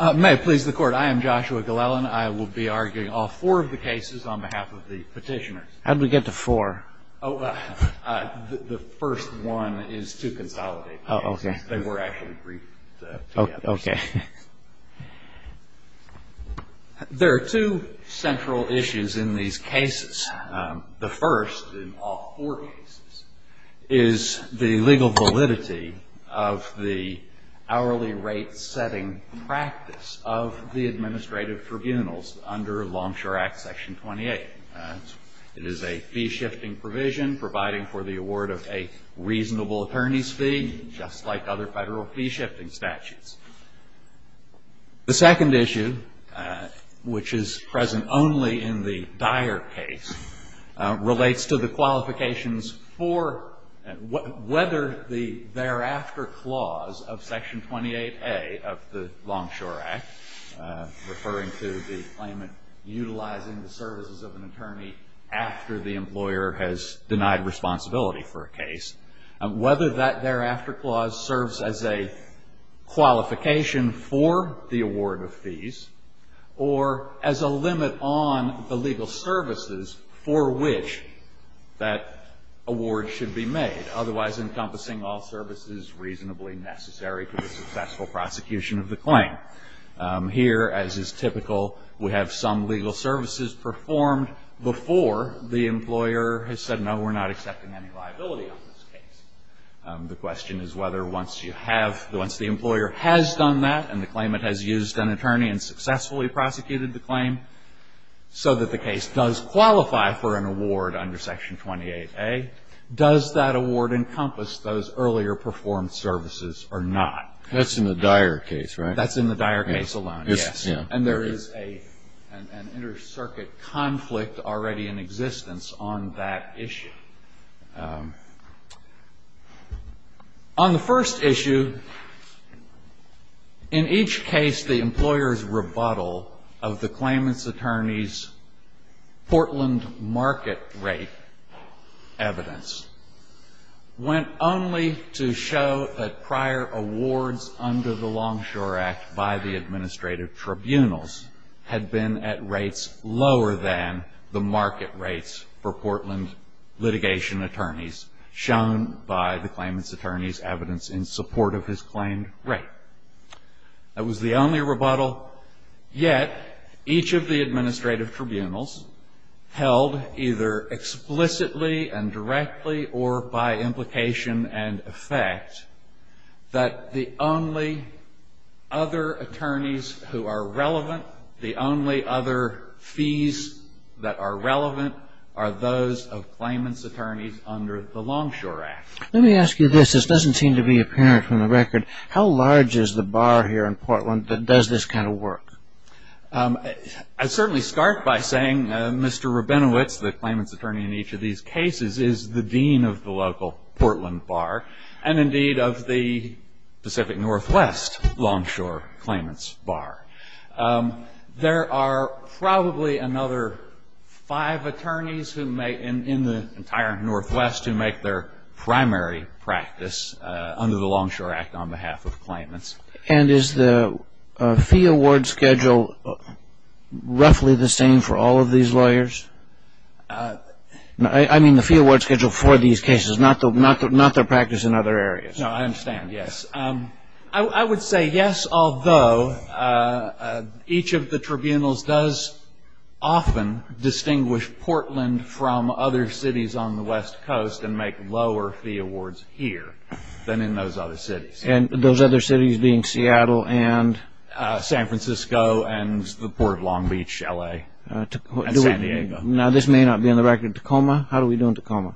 May it please the Court, I am Joshua Glellen. I will be arguing all four of the cases on behalf of the petitioners. How do we get to four? The first one is to consolidate the cases. They were actually briefed together. There are two central issues in these cases. The first, in all four cases, is the legal validity of the hourly rate setting practice of the administrative tribunals under Longshore Act Section 28. It is a fee-shifting provision providing for the award of a reasonable attorney's fee, just like other federal fee-shifting statutes. The second issue, which is present only in the Dyer case, relates to the qualifications for whether the thereafter clause of Section 28A of the Longshore Act, referring to the claimant utilizing the services of an attorney after the employer has denied responsibility for a case, whether that thereafter clause serves as a qualification for the award of fees, or as a limit on the legal services for which that award should be made, otherwise encompassing all services reasonably necessary to the successful prosecution of the claim. Here, as is typical, we have some legal services performed before the employer has said, no, we're not accepting any liability on this case. The question is whether once you have, once the employer has done that and the claimant has used an attorney and successfully prosecuted the claim so that the case does qualify for an award under Section 28A, does that award encompass those earlier performed services or not? That's in the Dyer case, right? That's in the Dyer case alone, yes. And there is an inter-circuit conflict already in existence on that issue. On the first issue, in each case, the employer's rebuttal of the claimant's attorney's Portland market rate evidence went only to show that prior awards under the Longshore Act by the administrative tribunals had been at rates lower than the market rates for Portland litigation attorneys shown by the claimant's attorney's evidence in support of his claimed rate. That was the only rebuttal. Yet, each of the administrative tribunals held either explicitly and directly or by implication and effect that the only other attorneys who are relevant, the only other fees that are relevant, are those of claimant's attorneys under the Longshore Act. Let me ask you this. This doesn't seem to be apparent from the record. How large is the bar here in Portland that does this kind of work? I'd certainly start by saying Mr. Rabinowitz, the claimant's attorney in each of these cases, is the dean of the local Portland bar and, indeed, of the Pacific Northwest Longshore claimant's bar. There are probably another five attorneys in the entire Northwest who make their primary practice under the Longshore Act on behalf of claimants. And is the fee award schedule roughly the same for all of these lawyers? I mean the fee award schedule for these cases, not their practice in other areas. No, I understand, yes. I would say yes, although each of the tribunals does often distinguish Portland from other cities on the west coast and make lower fee awards here than in those other cities. And those other cities being Seattle and? San Francisco and the port of Long Beach, L.A., and San Diego. Now, this may not be on the record in Tacoma. How do we do in Tacoma?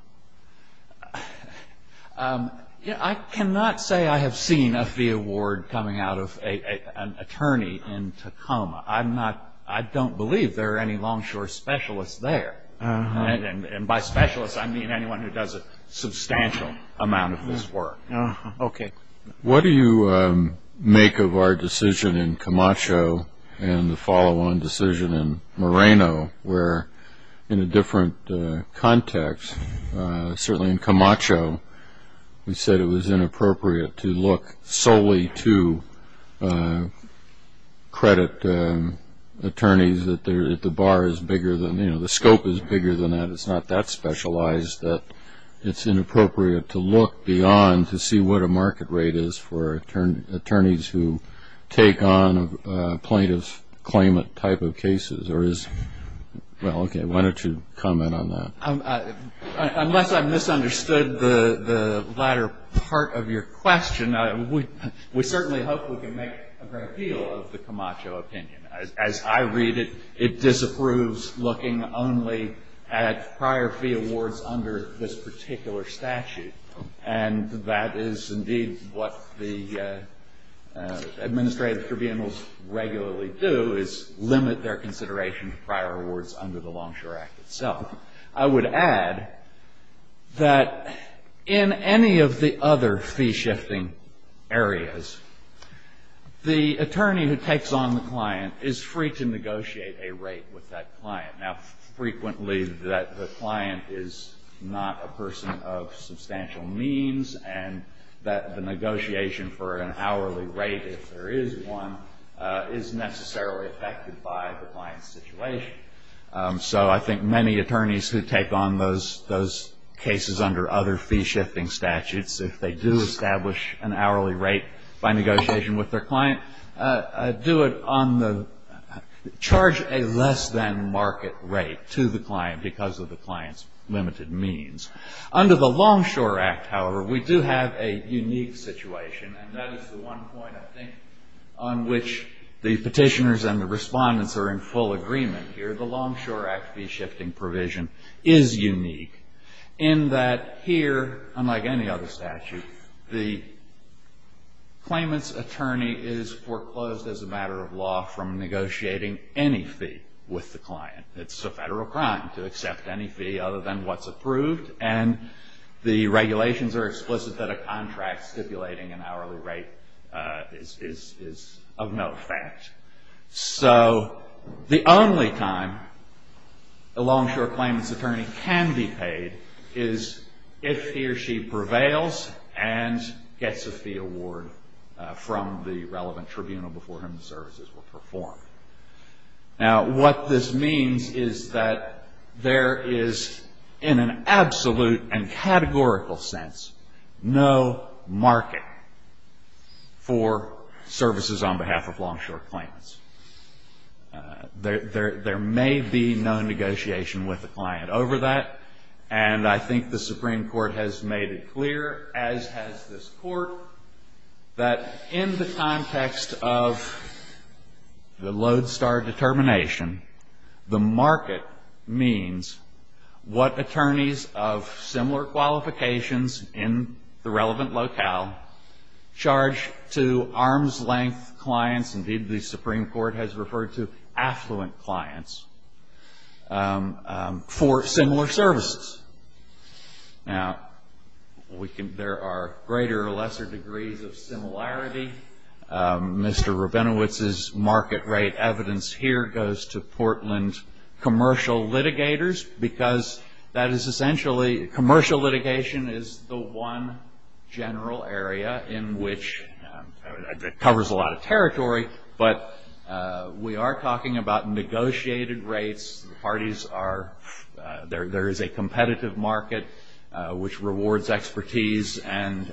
I cannot say I have seen a fee award coming out of an attorney in Tacoma. I don't believe there are any longshore specialists there. And by specialists, I mean anyone who does a substantial amount of this work. Okay. What do you make of our decision in Camacho and the follow-on decision in Moreno, where in a different context, certainly in Camacho, we said it was inappropriate to look solely to credit attorneys that the bar is bigger than, you know, the scope is bigger than that, it's not that specialized, that it's inappropriate to look beyond to see what a market rate is for attorneys who take on plaintiff's claimant type of cases or is, well, okay, why don't you comment on that? Unless I've misunderstood the latter part of your question, we certainly hope we can make a great appeal of the Camacho opinion. As I read it, it disapproves looking only at prior fee awards under this particular statute. And that is indeed what the administrative tribunals regularly do, is limit their consideration for prior awards under the Longshore Act itself. I would add that in any of the other fee-shifting areas, the attorney who takes on the client is free to negotiate a rate with that client. Now, frequently the client is not a person of substantial means and that the negotiation for an hourly rate, if there is one, is necessarily affected by the client's situation. So I think many attorneys who take on those cases under other fee-shifting statutes, if they do establish an hourly rate by negotiation with their client, do it on the charge a less than market rate to the client because of the client's limited means. Under the Longshore Act, however, we do have a unique situation, and that is the one point I think on which the petitioners and the respondents are in full agreement here. The Longshore Act fee-shifting provision is unique in that here, unlike any other statute, the claimant's attorney is foreclosed as a matter of law from negotiating any fee with the client. It's a federal crime to accept any fee other than what's approved, and the regulations are explicit that a contract stipulating an hourly rate is of no effect. So the only time a longshore claimant's attorney can be paid is if he or she prevails and gets a fee award from the relevant tribunal before whom the services were performed. Now, what this means is that there is, in an absolute and categorical sense, no market for services on behalf of longshore claimants. There may be no negotiation with the client over that, and I think the Supreme Court has made it clear, as has this Court, that in the context of the Lodestar determination, the market means what attorneys of similar qualifications in the relevant locale charge to arm's-length clients, indeed the Supreme Court has referred to affluent clients, for similar services. Now, there are greater or lesser degrees of similarity. Mr. Rabinowitz's market rate evidence here goes to Portland commercial litigators because that is essentially commercial litigation is the one general area in which it covers a lot of territory, but we are talking about negotiated rates. The parties are there. There is a competitive market which rewards expertise and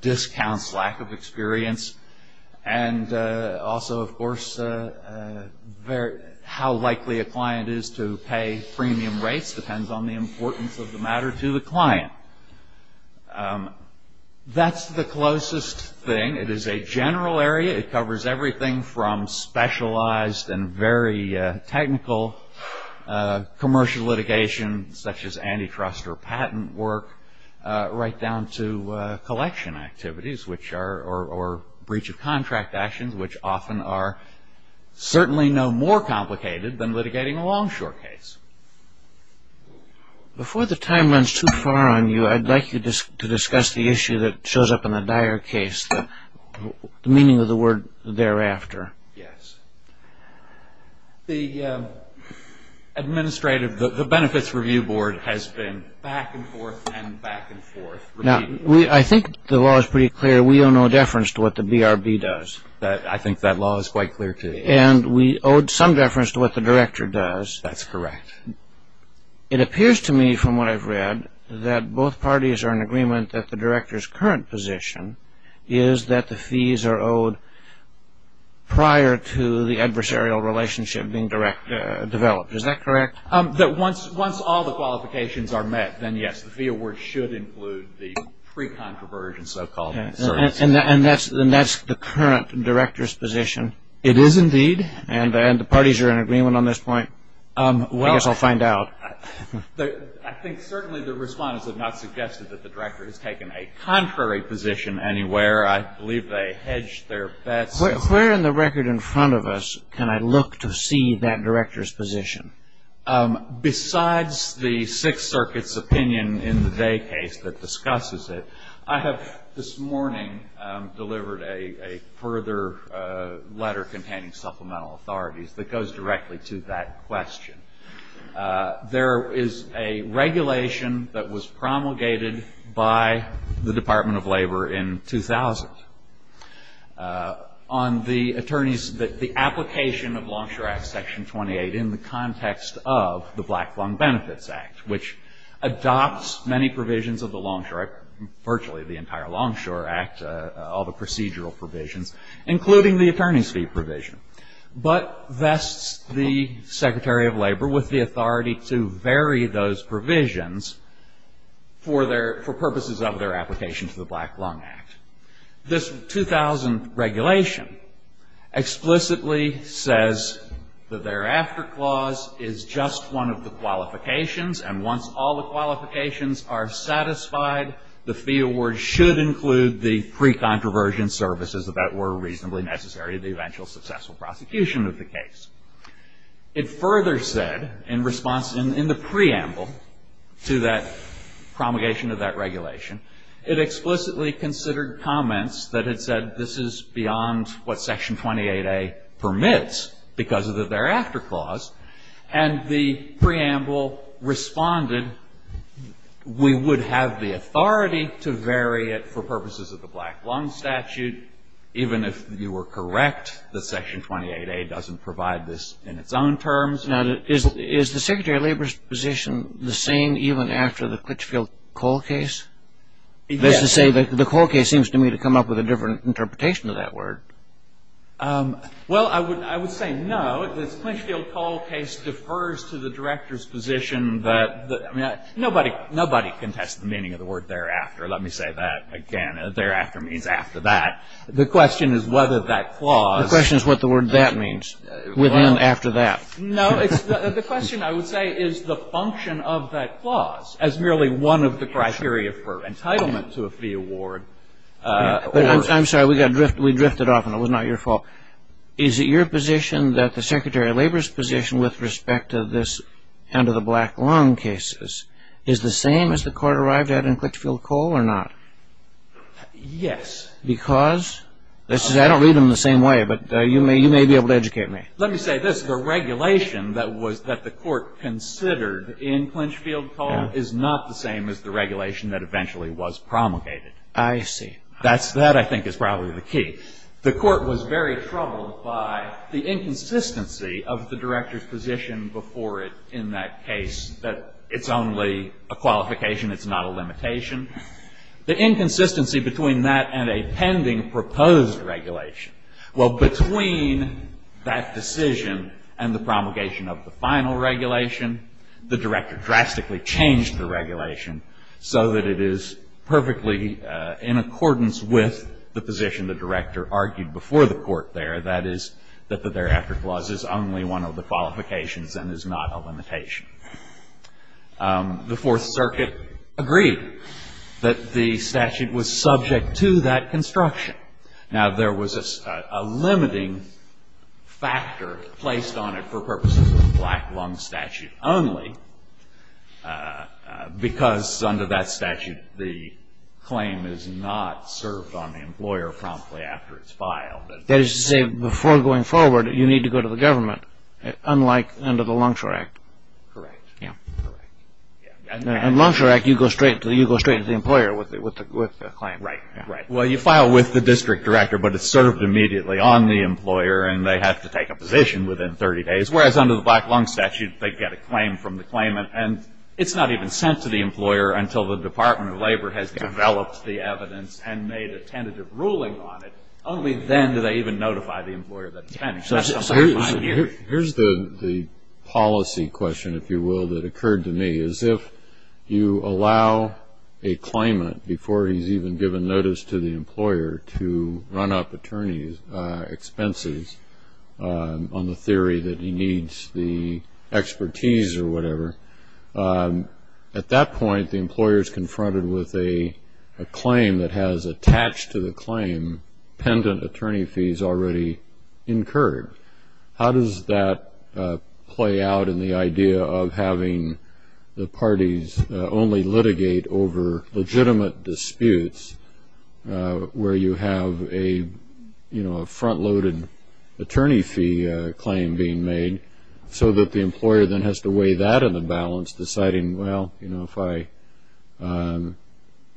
discounts lack of experience, and also, of course, how likely a client is to pay premium rates depends on the importance of the matter to the client. That's the closest thing. It is a general area. It covers everything from specialized and very technical commercial litigation, such as antitrust or patent work, right down to collection activities or breach of contract actions, which often are certainly no more complicated than litigating a longshore case. Before the time runs too far on you, I'd like you to discuss the issue that shows up in a dire case, the meaning of the word thereafter. Yes. The Benefits Review Board has been back and forth and back and forth. Now, I think the law is pretty clear. We owe no deference to what the BRB does. I think that law is quite clear to me. And we owed some deference to what the director does. That's correct. It appears to me from what I've read that both parties are in agreement that the director's current position is that the fees are owed prior to the adversarial relationship being developed. Is that correct? Once all the qualifications are met, then yes, the fee award should include the pre-controversial so-called services. And that's the current director's position? It is indeed. And the parties are in agreement on this point? I guess I'll find out. I think certainly the respondents have not suggested that the director has taken a contrary position anywhere. I believe they hedged their bets. Where in the record in front of us can I look to see that director's position? Besides the Sixth Circuit's opinion in the day case that discusses it, I have this morning delivered a further letter containing supplemental authorities that goes directly to that question. There is a regulation that was promulgated by the Department of Labor in 2000 on the attorneys, the application of Longshore Act Section 28 in the context of the Blackfong Benefits Act, which adopts many provisions of the Longshore Act, virtually the entire Longshore Act, all the procedural provisions, including the attorney's fee provision, but vests the Secretary of Labor with the authority to vary those provisions for purposes of their application to the Black Lung Act. This 2000 regulation explicitly says that their after clause is just one of the qualifications, and once all the qualifications are satisfied, the fee award should include the pre-controversial services that were reasonably necessary to the eventual successful prosecution of the case. It further said in response in the preamble to that promulgation of that regulation, it explicitly considered comments that had said this is beyond what Section 28A permits because of the thereafter clause, and the preamble responded, we would have the authority to vary it for purposes of the Black Lung statute, even if you were correct that Section 28A doesn't provide this in its own terms. Now, is the Secretary of Labor's position the same even after the Clitchfield-Cole case? Yes. That is to say, the Cole case seems to me to come up with a different interpretation of that word. Well, I would say no. The Clitchfield-Cole case defers to the Director's position that nobody can test the meaning of the word thereafter. Let me say that again. Thereafter means after that. The question is whether that clause ---- The question is what the word that means, within after that. No. The question, I would say, is the function of that clause as merely one of the criteria for entitlement to a fee award. I'm sorry. We drifted off and it was not your fault. Is it your position that the Secretary of Labor's position with respect to this end of the Black Lung cases is the same as the court arrived at in Clitchfield-Cole or not? Yes. Because? I don't read them the same way, but you may be able to educate me. Let me say this. The regulation that the court considered in Clitchfield-Cole is not the same as the regulation that eventually was promulgated. I see. That, I think, is probably the key. The court was very troubled by the inconsistency of the Director's position before it in that case that it's only a qualification, it's not a limitation. The inconsistency between that and a pending proposed regulation. Well, between that decision and the promulgation of the final regulation, the Director drastically changed the regulation so that it is perfectly in accordance with the position the Director argued before the court there, that is that the thereafter clause is only one of the qualifications and is not a limitation. The Fourth Circuit agreed that the statute was subject to that construction. Now, there was a limiting factor placed on it for purposes of the Black Lung Statute only because under that statute the claim is not served on the employer promptly after it's filed. That is to say, before going forward, you need to go to the government, unlike under the Lung Sure Act. Correct. In the Lung Sure Act, you go straight to the employer with the claim. Right. Well, you file with the district director, but it's served immediately on the employer and they have to take a position within 30 days, whereas under the Black Lung Statute, they get a claim from the claimant and it's not even sent to the employer until the Department of Labor has developed the evidence and made a tentative ruling on it. Only then do they even notify the employer that it's pending. Here's the policy question, if you will, that occurred to me. As if you allow a claimant, before he's even given notice to the employer, to run up attorney's expenses on the theory that he needs the expertise or whatever, at that point the employer is confronted with a claim that has attached to the claim pendant attorney fees already incurred. How does that play out in the idea of having the parties only litigate over legitimate disputes where you have a front-loaded attorney fee claim being made, so that the employer then has to weigh that in the balance, deciding, well, if I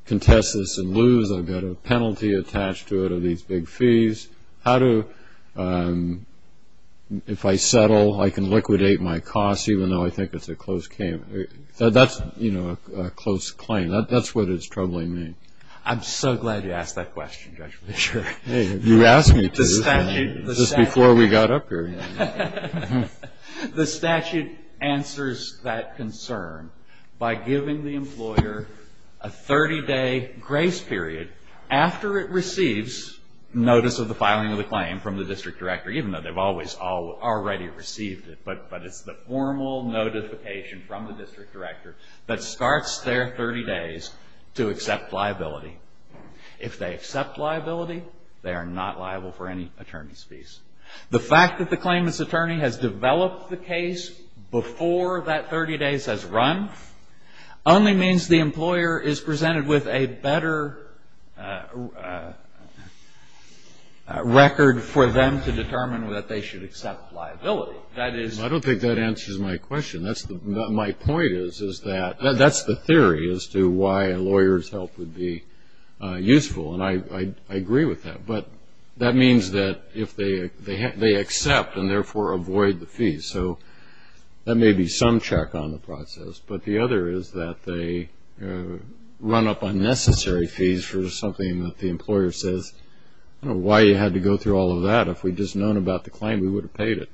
contest this and lose, I've got a penalty attached to it of these big fees. How do, if I settle, I can liquidate my costs even though I think it's a close claim? That's a close claim. That's what it's troubling me. I'm so glad you asked that question, Judge Fischer. You asked me to just before we got up here. The statute answers that concern by giving the employer a 30-day grace period after it receives notice of the filing of the claim from the district director, even though they've always already received it, but it's the formal notification from the district director that starts their 30 days to accept liability. If they accept liability, they are not liable for any attorney's fees. The fact that the claimant's attorney has developed the case before that 30 days has run only means the employer is presented with a better record for them to determine that they should accept liability. I don't think that answers my question. My point is that that's the theory as to why a lawyer's help would be useful, and I agree with that. But that means that if they accept and therefore avoid the fees, so that may be some check on the process, but the other is that they run up unnecessary fees for something that the employer says, I don't know why you had to go through all of that. If we'd just known about the claim, we would have paid it.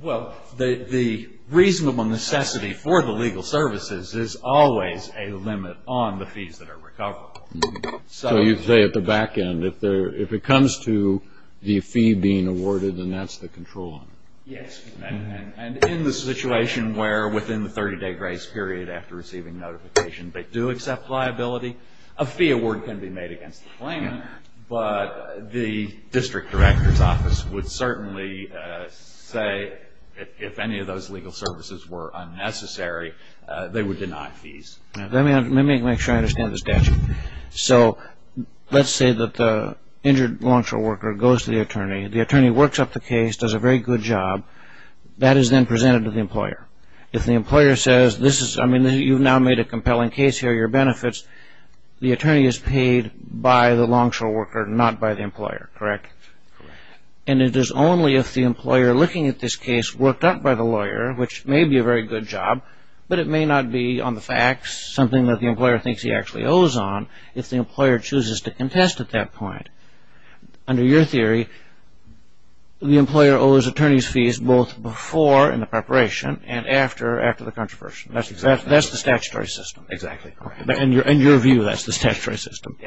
Well, the reasonable necessity for the legal services is always a limit on the fees that are recovered. So you say at the back end, if it comes to the fee being awarded, then that's the control. Yes. And in the situation where within the 30-day grace period after receiving notification they do accept liability, a fee award can be made against the claimant, but the district director's office would certainly say if any of those legal services were unnecessary, they would deny fees. Let me make sure I understand the statute. So let's say that the injured law enforcement worker goes to the attorney. The attorney works up the case, does a very good job. That is then presented to the employer. If the employer says, you've now made a compelling case here, your benefits, the attorney is paid by the longshore worker, not by the employer, correct? Correct. And it is only if the employer, looking at this case, worked up by the lawyer, which may be a very good job, but it may not be on the facts, something that the employer thinks he actually owes on, if the employer chooses to contest at that point. Under your theory, the employer owes attorney's fees both before in the preparation and after the controversy. That's the statutory system. Exactly. In your view, that's the statutory system.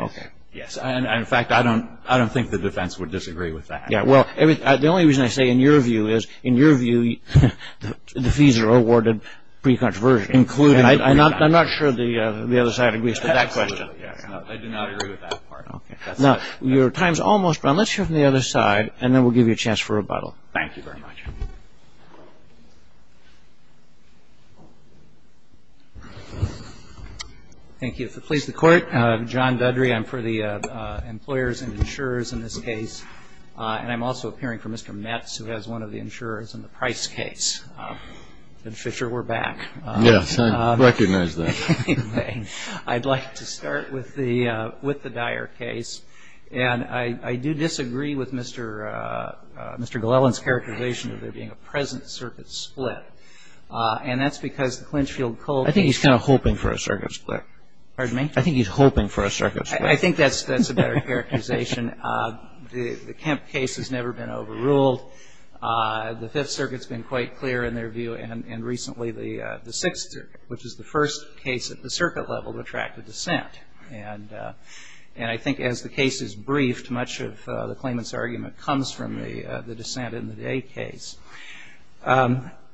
Yes. In fact, I don't think the defense would disagree with that. The only reason I say in your view is, in your view, the fees are awarded pre-controversy. I'm not sure the other side agrees with that question. I do not agree with that part. Okay. Now, your time's almost run. Let's hear from the other side, and then we'll give you a chance for rebuttal. Thank you very much. Thank you. If it pleases the Court, I'm John Dudry. I'm for the employers and insurers in this case. And I'm also appearing for Mr. Metz, who has one of the insurers in the Price case. And, Fisher, we're back. Yes, I recognize that. Anyway, I'd like to start with the dire case. And I do disagree with Mr. Glellan's characterization of there being a present circuit split. And that's because the Clinchfield-Cole case was a split. I think he's kind of hoping for a circuit split. Pardon me? I think he's hoping for a circuit split. I think that's a better characterization. The Kemp case has never been overruled. The Fifth Circuit's been quite clear in their view. And recently the Sixth Circuit, which is the first case at the circuit level to attract a dissent. And I think as the case is briefed, much of the claimant's argument comes from the dissent in the Day case.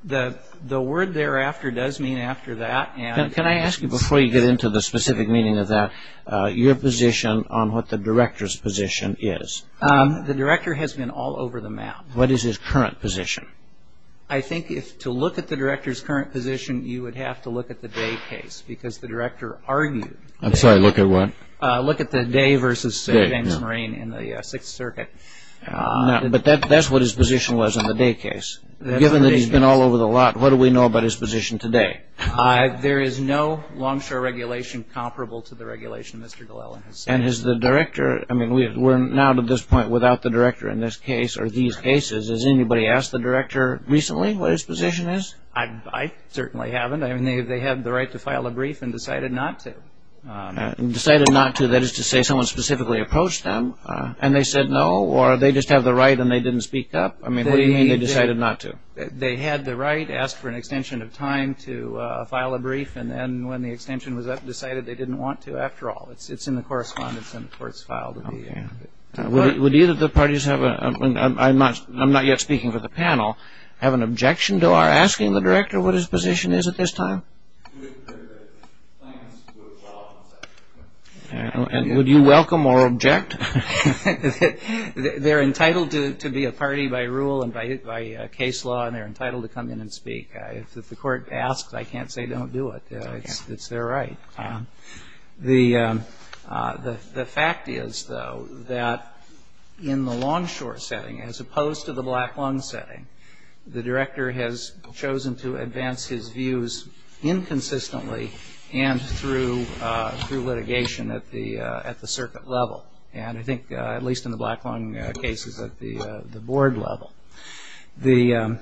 The word thereafter does mean after that. Can I ask you, before you get into the specific meaning of that, your position on what the director's position is? The director has been all over the map. What is his current position? I think if to look at the director's current position, you would have to look at the Day case because the director argued. I'm sorry, look at what? Look at the Day versus James Moraine in the Sixth Circuit. But that's what his position was in the Day case. Given that he's been all over the lot, what do we know about his position today? There is no longshore regulation comparable to the regulation Mr. Glellan has said. And is the director, I mean, we're now to this point without the director in this case or these cases. Has anybody asked the director recently what his position is? I certainly haven't. I mean, they had the right to file a brief and decided not to. Decided not to, that is to say someone specifically approached them and they said no? Or they just have the right and they didn't speak up? I mean, what do you mean they decided not to? They had the right, asked for an extension of time to file a brief, and then when the extension was up, decided they didn't want to after all. It's in the correspondence and of course filed. Would either of the parties have, I'm not yet speaking for the panel, have an objection to our asking the director what his position is at this time? And would you welcome or object? They're entitled to be a party by rule and by case law, and they're entitled to come in and speak. If the court asks, I can't say don't do it. It's their right. The fact is, though, that in the Longshore setting, as opposed to the Black Lung setting, the director has chosen to advance his views inconsistently and through litigation at the circuit level, and I think at least in the Black Lung cases at the board level. The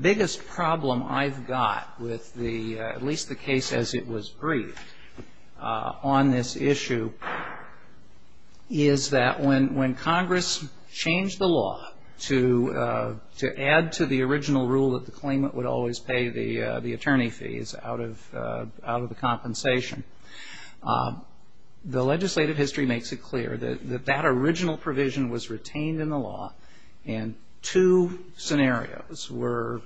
biggest problem I've got with the, at least the case as it was briefed on this issue, is that when Congress changed the law to add to the original rule that the claimant would always pay the attorney fees out of the compensation, the legislative history makes it clear that that original provision was retained in the law and two scenarios were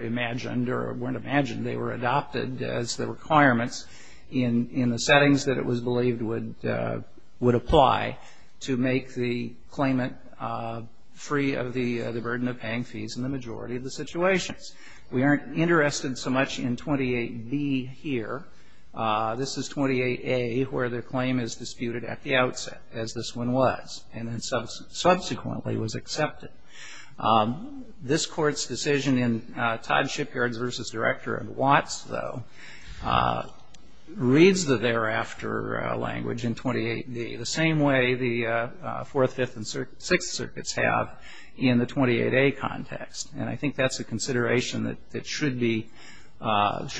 imagined or weren't imagined. They were adopted as the requirements in the settings that it was believed would apply to make the claimant free of the burden of paying fees in the majority of the situations. We aren't interested so much in 28B here. This is 28A where the claim is disputed at the outset, as this one was, and then subsequently was accepted. This court's decision in Todd Shipyard's versus Director of Watts, though, reads the thereafter language in 28B the same way the Fourth, Fifth, and Sixth Circuits have in the 28A context, and I think that's a consideration that should be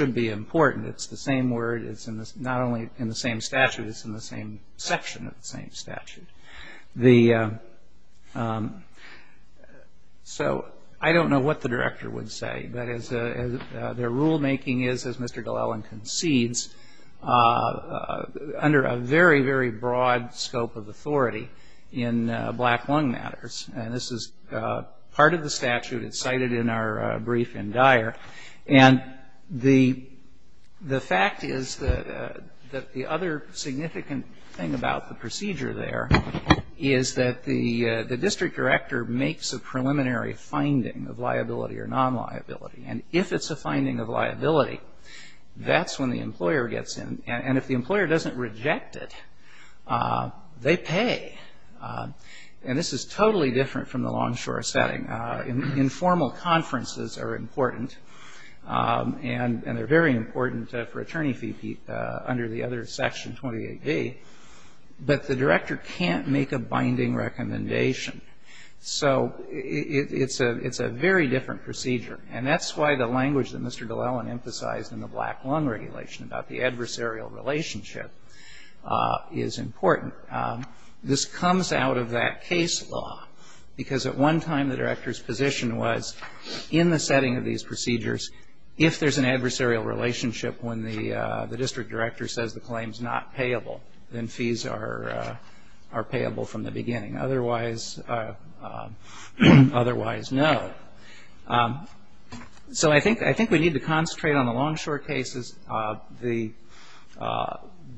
important. It's the same word. It's not only in the same statute. It's in the same section of the same statute. So I don't know what the director would say, but their rulemaking is, as Mr. Glellen concedes, under a very, very broad scope of authority in black lung matters, and this is part of the statute. It's cited in our brief in Dyer, and the fact is that the other significant thing about the procedure there is that the district director makes a preliminary finding of liability or non-liability, and if it's a finding of liability, that's when the employer gets in, and if the employer doesn't reject it, they pay, and this is totally different from the Longshore setting. Informal conferences are important, and they're very important for attorney fee under the other section, 28B, but the director can't make a binding recommendation. So it's a very different procedure, and that's why the language that Mr. Glellen emphasized in the black lung regulation about the adversarial relationship is important. However, this comes out of that case law, because at one time the director's position was in the setting of these procedures, if there's an adversarial relationship when the district director says the claim's not payable, then fees are payable from the beginning. Otherwise, no. So I think we need to concentrate on the Longshore cases.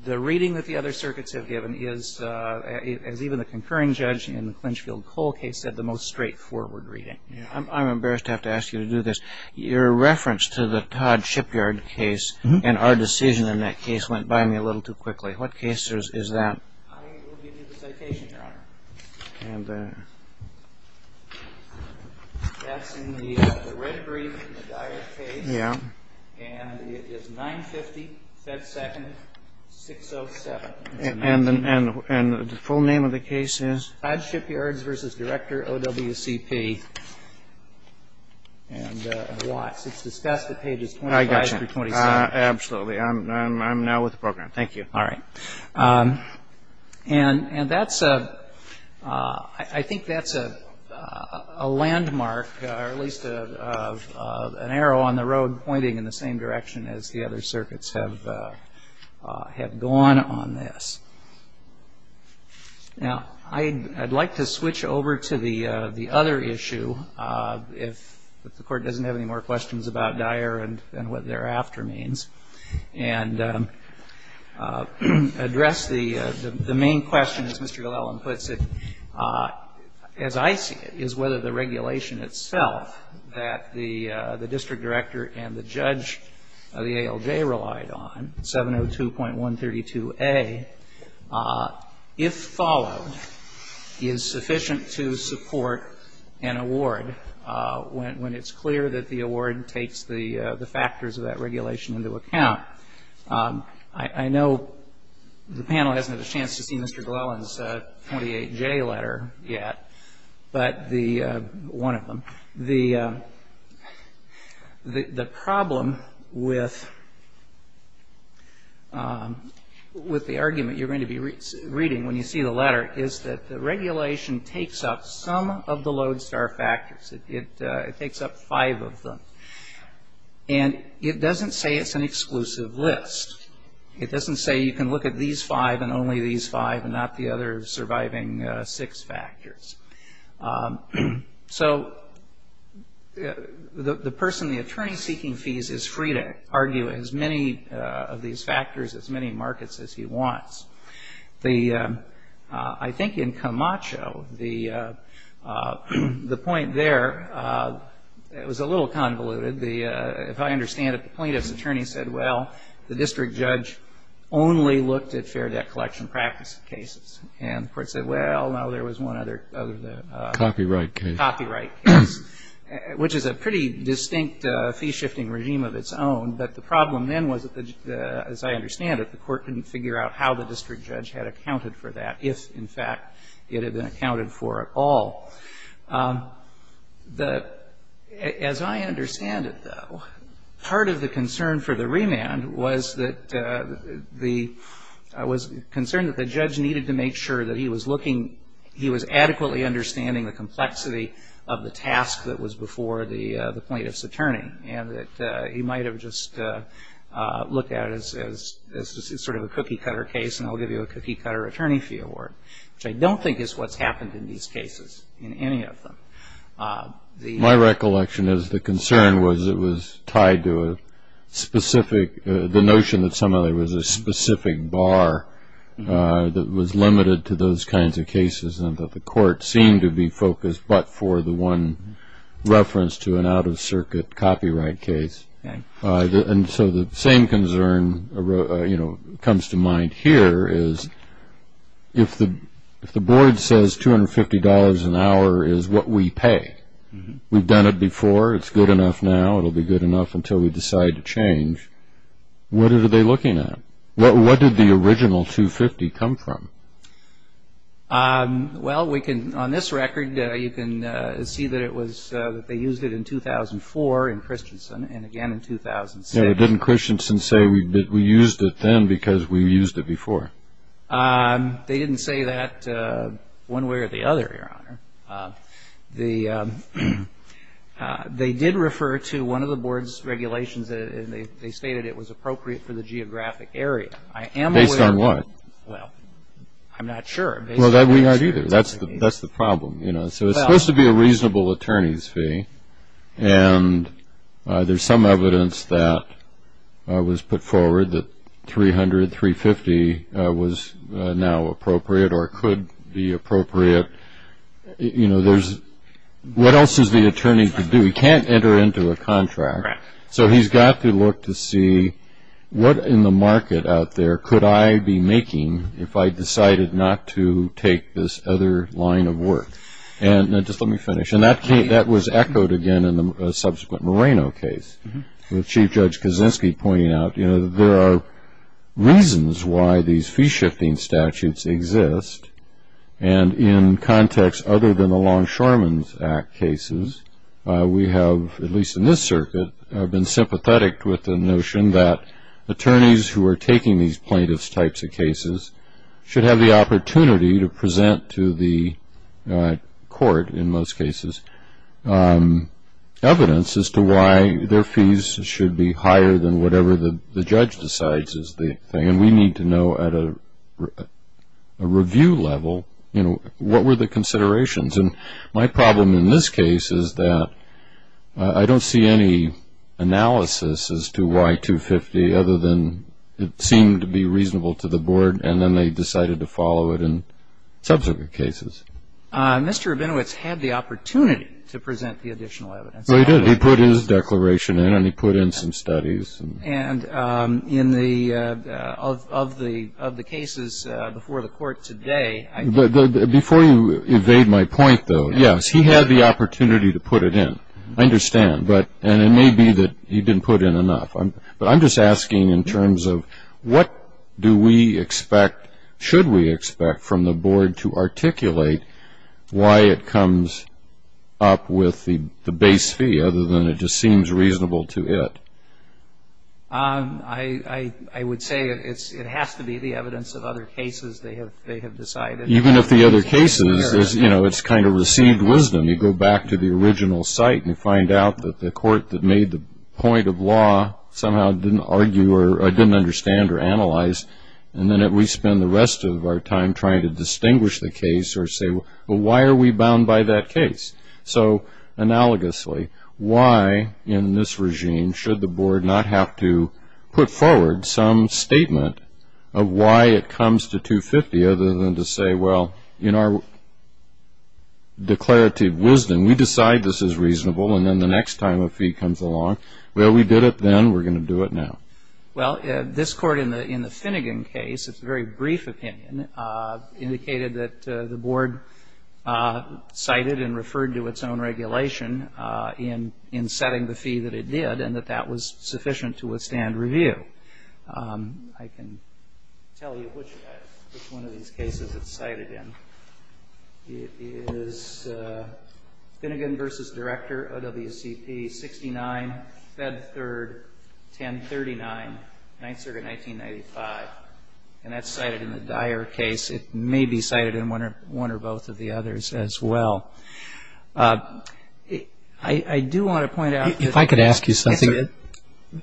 The reading that the other circuits have given is, as even the concurring judge in the Clinchfield-Cole case said, the most straightforward reading. I'm embarrassed to have to ask you to do this. Your reference to the Todd Shipyard case and our decision in that case went by me a little too quickly. What case is that? I will give you the citation, Your Honor. And the? That's in the red brief in the Dyer case. Yeah. And it is 950 FedSecond 607. And the full name of the case is? Todd Shipyards v. Director OWCP. And watch, it's discussed at pages 25 through 27. I got you. Absolutely. I'm now with the program. Thank you. All right. And I think that's a landmark, or at least an arrow on the road, pointing in the same direction as the other circuits have gone on this. Now, I'd like to switch over to the other issue, if the Court doesn't have any more questions about Dyer and what thereafter means, and address the main question, as Mr. Glellan puts it. As I see it, is whether the regulation itself that the district director and the judge of the ALJ relied on, 702.132A, if followed is sufficient to support an award when it's clear that the award takes the factors of that regulation into account? I know the panel hasn't had a chance to see Mr. Glellan's 28J letter yet, but one of them. The problem with the argument you're going to be reading when you see the letter is that the regulation takes up some of the Lodestar factors. It takes up five of them. And it doesn't say it's an exclusive list. It doesn't say you can look at these five and only these five, and not the other surviving six factors. So the person, the attorney seeking fees, is free to argue as many of these factors, as many markets as he wants. I think in Camacho, the point there was a little convoluted. If I understand it, the plaintiff's attorney said, well, the district judge only looked at fair debt collection practice cases. And the court said, well, no, there was one other than that. Copyright case. Copyright case, which is a pretty distinct fee-shifting regime of its own. But the problem then was, as I understand it, the court couldn't figure out how the district judge had accounted for that, if, in fact, it had been accounted for at all. As I understand it, though, part of the concern for the remand was that the judge needed to make sure that he was adequately understanding the complexity of the task that was before the plaintiff's attorney, and that he might have just looked at it as sort of a cookie-cutter case, and I'll give you a cookie-cutter attorney fee award, which I don't think is what's happened in these cases, in any of them. My recollection is the concern was it was tied to a specific, the notion that somebody was a specific bar that was limited to those kinds of cases, and that the court seemed to be focused but for the one reference to an out-of-circuit copyright case. And so the same concern comes to mind here is if the board says $250 an hour is what we pay, we've done it before, it's good enough now, it'll be good enough until we decide to change, what are they looking at? What did the original $250 come from? Well, we can, on this record, you can see that it was, that they used it in 2004 in Christensen, and again in 2006. Didn't Christensen say we used it then because we used it before? They didn't say that one way or the other, Your Honor. They did refer to one of the board's regulations, and they stated it was appropriate for the geographic area. Based on what? Well, I'm not sure. Well, we aren't either. That's the problem. So it's supposed to be a reasonable attorney's fee, and there's some evidence that was put forward that $300, $350 was now appropriate or could be appropriate. You know, there's, what else is the attorney to do? He can't enter into a contract. Correct. So he's got to look to see what in the market out there could I be making if I decided not to take this other line of work. And just let me finish. And that was echoed again in the subsequent Moreno case, with Chief Judge Kaczynski pointing out, you know, there are reasons why these fee-shifting statutes exist, and in context other than the Longshoremen's Act cases, we have, at least in this circuit, been sympathetic with the notion that attorneys who are taking these plaintiff's types of cases should have the opportunity to present to the court, in most cases, evidence as to why their fees should be higher than whatever the judge decides is the thing, and we need to know at a review level, you know, what were the considerations. And my problem in this case is that I don't see any analysis as to why 250, other than it seemed to be reasonable to the board, and then they decided to follow it in subsequent cases. Mr. Rabinowitz had the opportunity to present the additional evidence. He did. He put his declaration in, and he put in some studies. And in the, of the cases before the court today. Before you evade my point, though, yes, he had the opportunity to put it in. I understand. And it may be that he didn't put in enough. But I'm just asking in terms of what do we expect, should we expect from the board to articulate why it comes up with the base fee, other than it just seems reasonable to it? I would say it has to be the evidence of other cases. Even if the other cases, you know, it's kind of received wisdom. You go back to the original site and you find out that the court that made the point of law somehow didn't argue or didn't understand or analyze. And then we spend the rest of our time trying to distinguish the case or say, well, why are we bound by that case? So analogously, why in this regime should the board not have to put forward some other case, other than to say, well, in our declarative wisdom, we decide this is reasonable and then the next time a fee comes along, well, we did it then, we're going to do it now. Well, this court in the Finnegan case, it's a very brief opinion, indicated that the board cited and referred to its own regulation in setting the fee that it did and that that was sufficient to withstand review. I can tell you which one of these cases it's cited in. It is Finnegan v. Director, OWCP, 69, Fed 3rd, 1039, 9th Circuit, 1995. And that's cited in the Dyer case. It may be cited in one or both of the others as well. I do want to point out that the attorney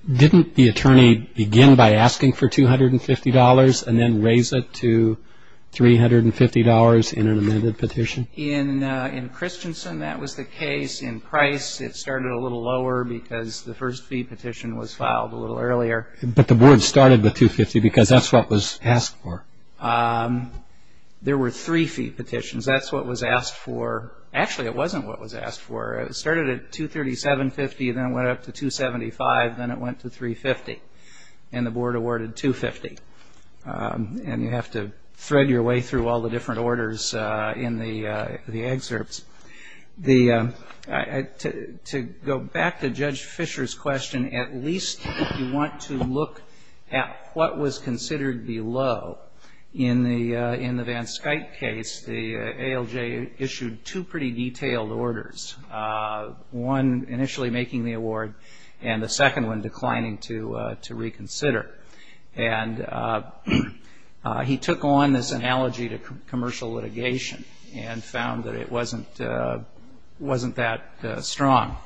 did not, again, begin by asking for $250 and then raise it to $350 in an amended petition. In Christensen, that was the case. In Price, it started a little lower because the first fee petition was filed a little earlier. But the board started with $250 because that's what was asked for. There were three fee petitions. That's what was asked for. Actually, it wasn't what was asked for. It started at $237.50, then it went up to $275, then it went to $350. And the board awarded $250. And you have to thread your way through all the different orders in the excerpts. To go back to Judge Fisher's question, at least if you want to look at what was considered below, in the Van Skuyte case, the ALJ issued two pretty detailed orders, one initially making the award and the second one declining to reconsider. And he took on this analogy to commercial litigation and found that it wasn't that strong.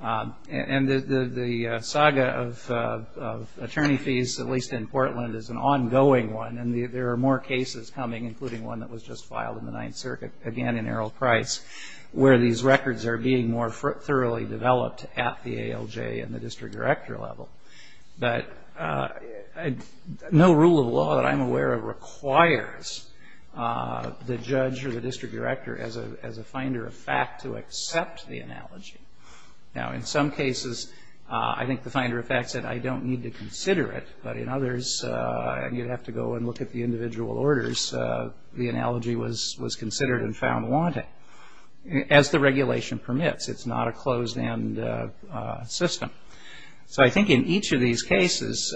And the saga of attorney fees, at least in Portland, is an ongoing one. And there are more cases coming, including one that was just filed in the Ninth Circuit, again in Erroll Price, where these records are being more thoroughly developed at the ALJ and the district director level. But no rule of law that I'm aware of requires the judge or the district director as a finder of fact to accept the analogy. Now, in some cases, I think the finder of fact said, I don't need to consider it. But in others, you'd have to go and look at the individual orders. The analogy was considered and found wanting. As the regulation permits, it's not a closed-end system. So I think in each of these cases,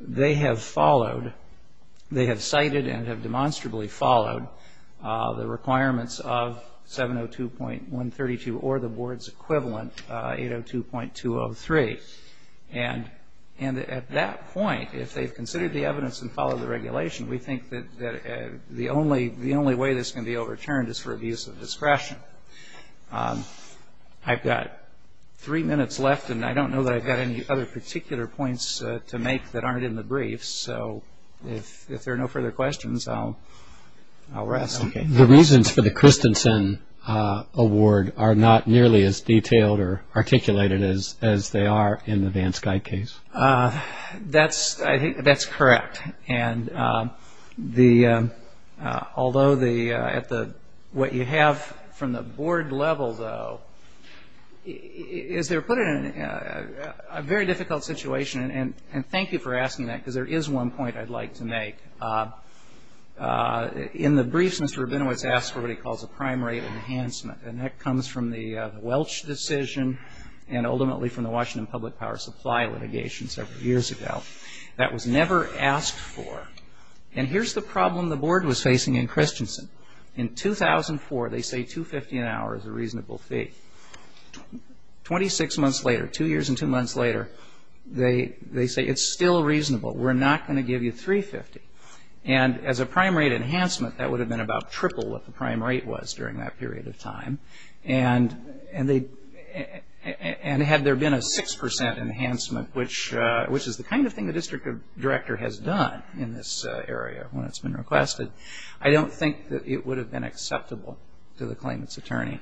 they have followed, they have cited and have demonstrably followed the requirements of 702.132 or the board's equivalent, 802.203. And at that point, if they've considered the evidence and followed the regulation, we think that the only way this can be overturned is for abuse of discretion. I've got three minutes left, and I don't know that I've got any other particular points to make that aren't in the briefs. So if there are no further questions, I'll rest. The reasons for the Christensen award are not nearly as detailed or articulated as they are in the Vance Guide case. That's correct. Although what you have from the board level, though, is they're put in a very difficult situation. And thank you for asking that, because there is one point I'd like to make. In the briefs, Mr. Rabinowitz asked for what he calls a prime rate enhancement, and that comes from the Welch decision and ultimately from the Washington Public Power Supply litigation several years ago. That was never asked for. And here's the problem the board was facing in Christensen. In 2004, they say $250 an hour is a reasonable fee. Twenty-six months later, two years and two months later, they say it's still reasonable. We're not going to give you $350. And as a prime rate enhancement, that would have been about triple what the prime rate was during that period of time. And had there been a 6% enhancement, which is the kind of thing the district director has done in this area when it's been requested, I don't think that it would have been acceptable to the claimant's attorney.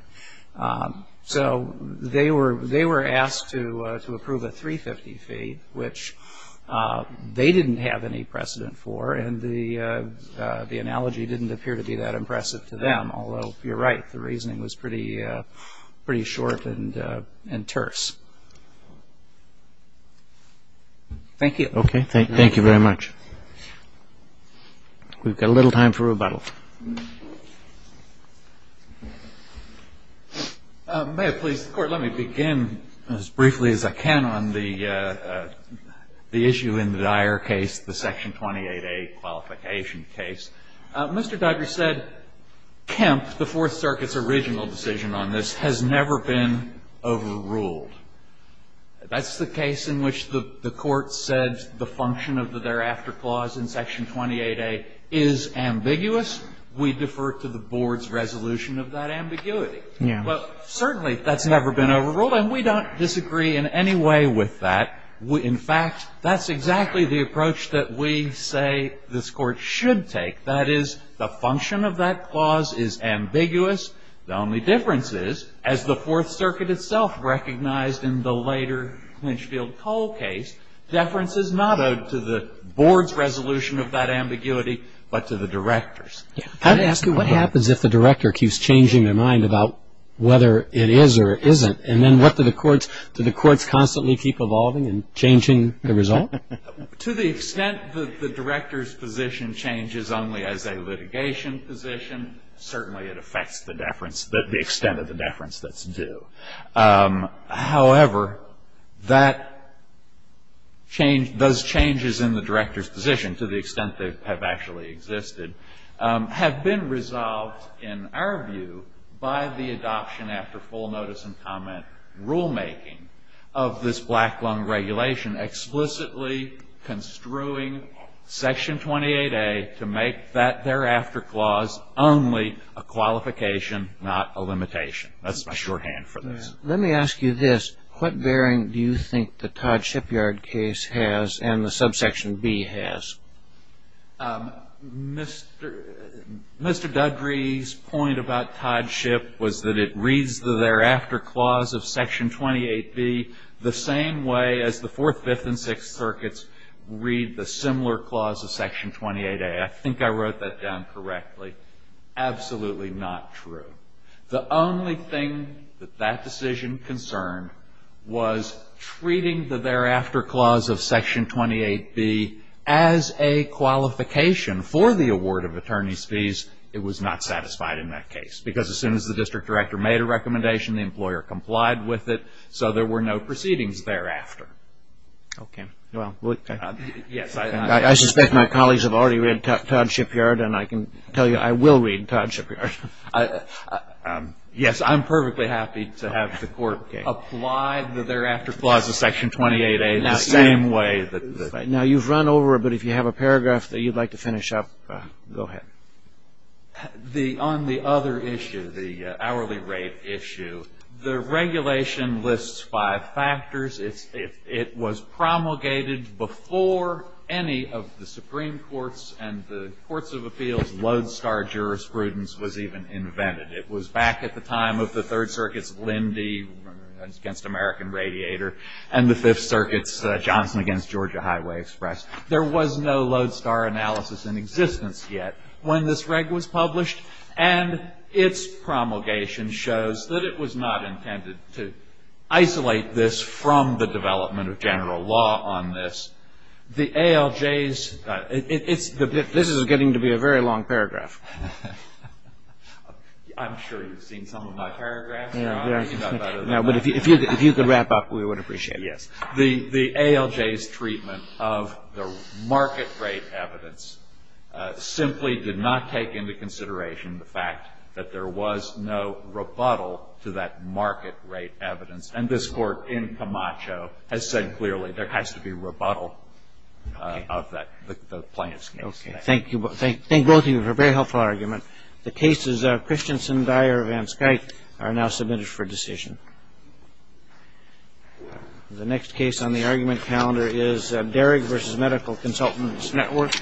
So they were asked to approve a $350 fee, which they didn't have any precedent for, and the analogy didn't appear to be that impressive to them, although you're right, the reasoning was pretty short and terse. Thank you. Okay, thank you very much. We've got a little time for rebuttal. May I please? The Court, let me begin as briefly as I can on the issue in the Dyer case, the Section 28A qualification case. Mr. Dugger said Kemp, the Fourth Circuit's original decision on this, has never been overruled. That's the case in which the Court said the function of the thereafter clause in Section 28A is ambiguous. We defer to the Board's resolution of that ambiguity. But certainly that's never been overruled, and we don't disagree in any way with that. In fact, that's exactly the approach that we say this Court should take. That is, the function of that clause is ambiguous. The only difference is, as the Fourth Circuit itself recognized in the later Clinchfield-Cole case, deference is not owed to the Board's resolution of that ambiguity, but to the Director's. Can I ask you what happens if the Director keeps changing their mind about whether it is or isn't, and then what do the courts, do the courts constantly keep evolving and changing the result? To the extent that the Director's position changes only as a litigation position, certainly it affects the deference, the extent of the deference that's due. However, that change, those changes in the Director's position, to the extent they have actually existed, have been resolved, in our view, by the adoption after full notice and comment rulemaking of this Black Lung Regulation explicitly construing Section 28A to make that thereafter clause only a qualification, not a limitation. That's my shorthand for this. Let me ask you this. What bearing do you think the Todd-Shipyard case has and the subsection B has? Mr. Dudry's point about Todd-Ship was that it reads the thereafter clause of Section 28B the same way as the Fourth, Fifth, and Sixth Circuits read the similar clause of Section 28A. I think I wrote that down correctly. Absolutely not true. The only thing that that decision concerned was treating the thereafter clause of Section 28B as a qualification for the award of attorney's fees. It was not satisfied in that case because as soon as the District Director made a recommendation, the employer complied with it, so there were no proceedings thereafter. Okay. Well, okay. Yes, I suspect my colleagues have already read Todd-Shipyard, and I can tell you I will read Todd-Shipyard. Yes, I'm perfectly happy to have the Court apply the thereafter clause of Section 28A the same way. Now, you've run over it, but if you have a paragraph that you'd like to finish up, go ahead. On the other issue, the hourly rate issue, the regulation lists five factors. It was promulgated before any of the Supreme Courts and the Courts of Appeals lodestar jurisprudence was even invented. It was back at the time of the Third Circuit's Lindy against American Radiator and the Fifth Circuit's Johnson against Georgia Highway Express. There was no lodestar analysis in existence yet when this reg was published, and its promulgation shows that it was not intended to isolate this from the development of general law on this. The ALJ's – this is getting to be a very long paragraph. I'm sure you've seen some of my paragraphs. No, but if you could wrap up, we would appreciate it. Yes. The ALJ's treatment of the market rate evidence simply did not take into consideration the fact that there was no rebuttal to that market rate evidence, and this Court in Camacho has said clearly there has to be rebuttal of the plaintiff's case. Okay. Thank you both. Thank both of you for a very helpful argument. The cases of Christensen, Dyer, and Van Schaik are now submitted for decision. The next case on the argument calendar is Derrick v. Medical Consultants Network. Thank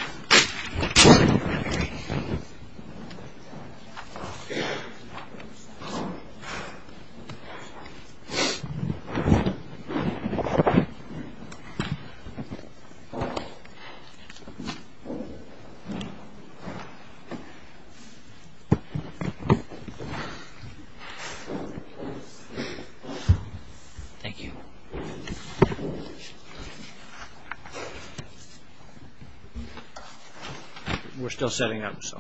you. We're still setting up, so. Thank you. Thank you.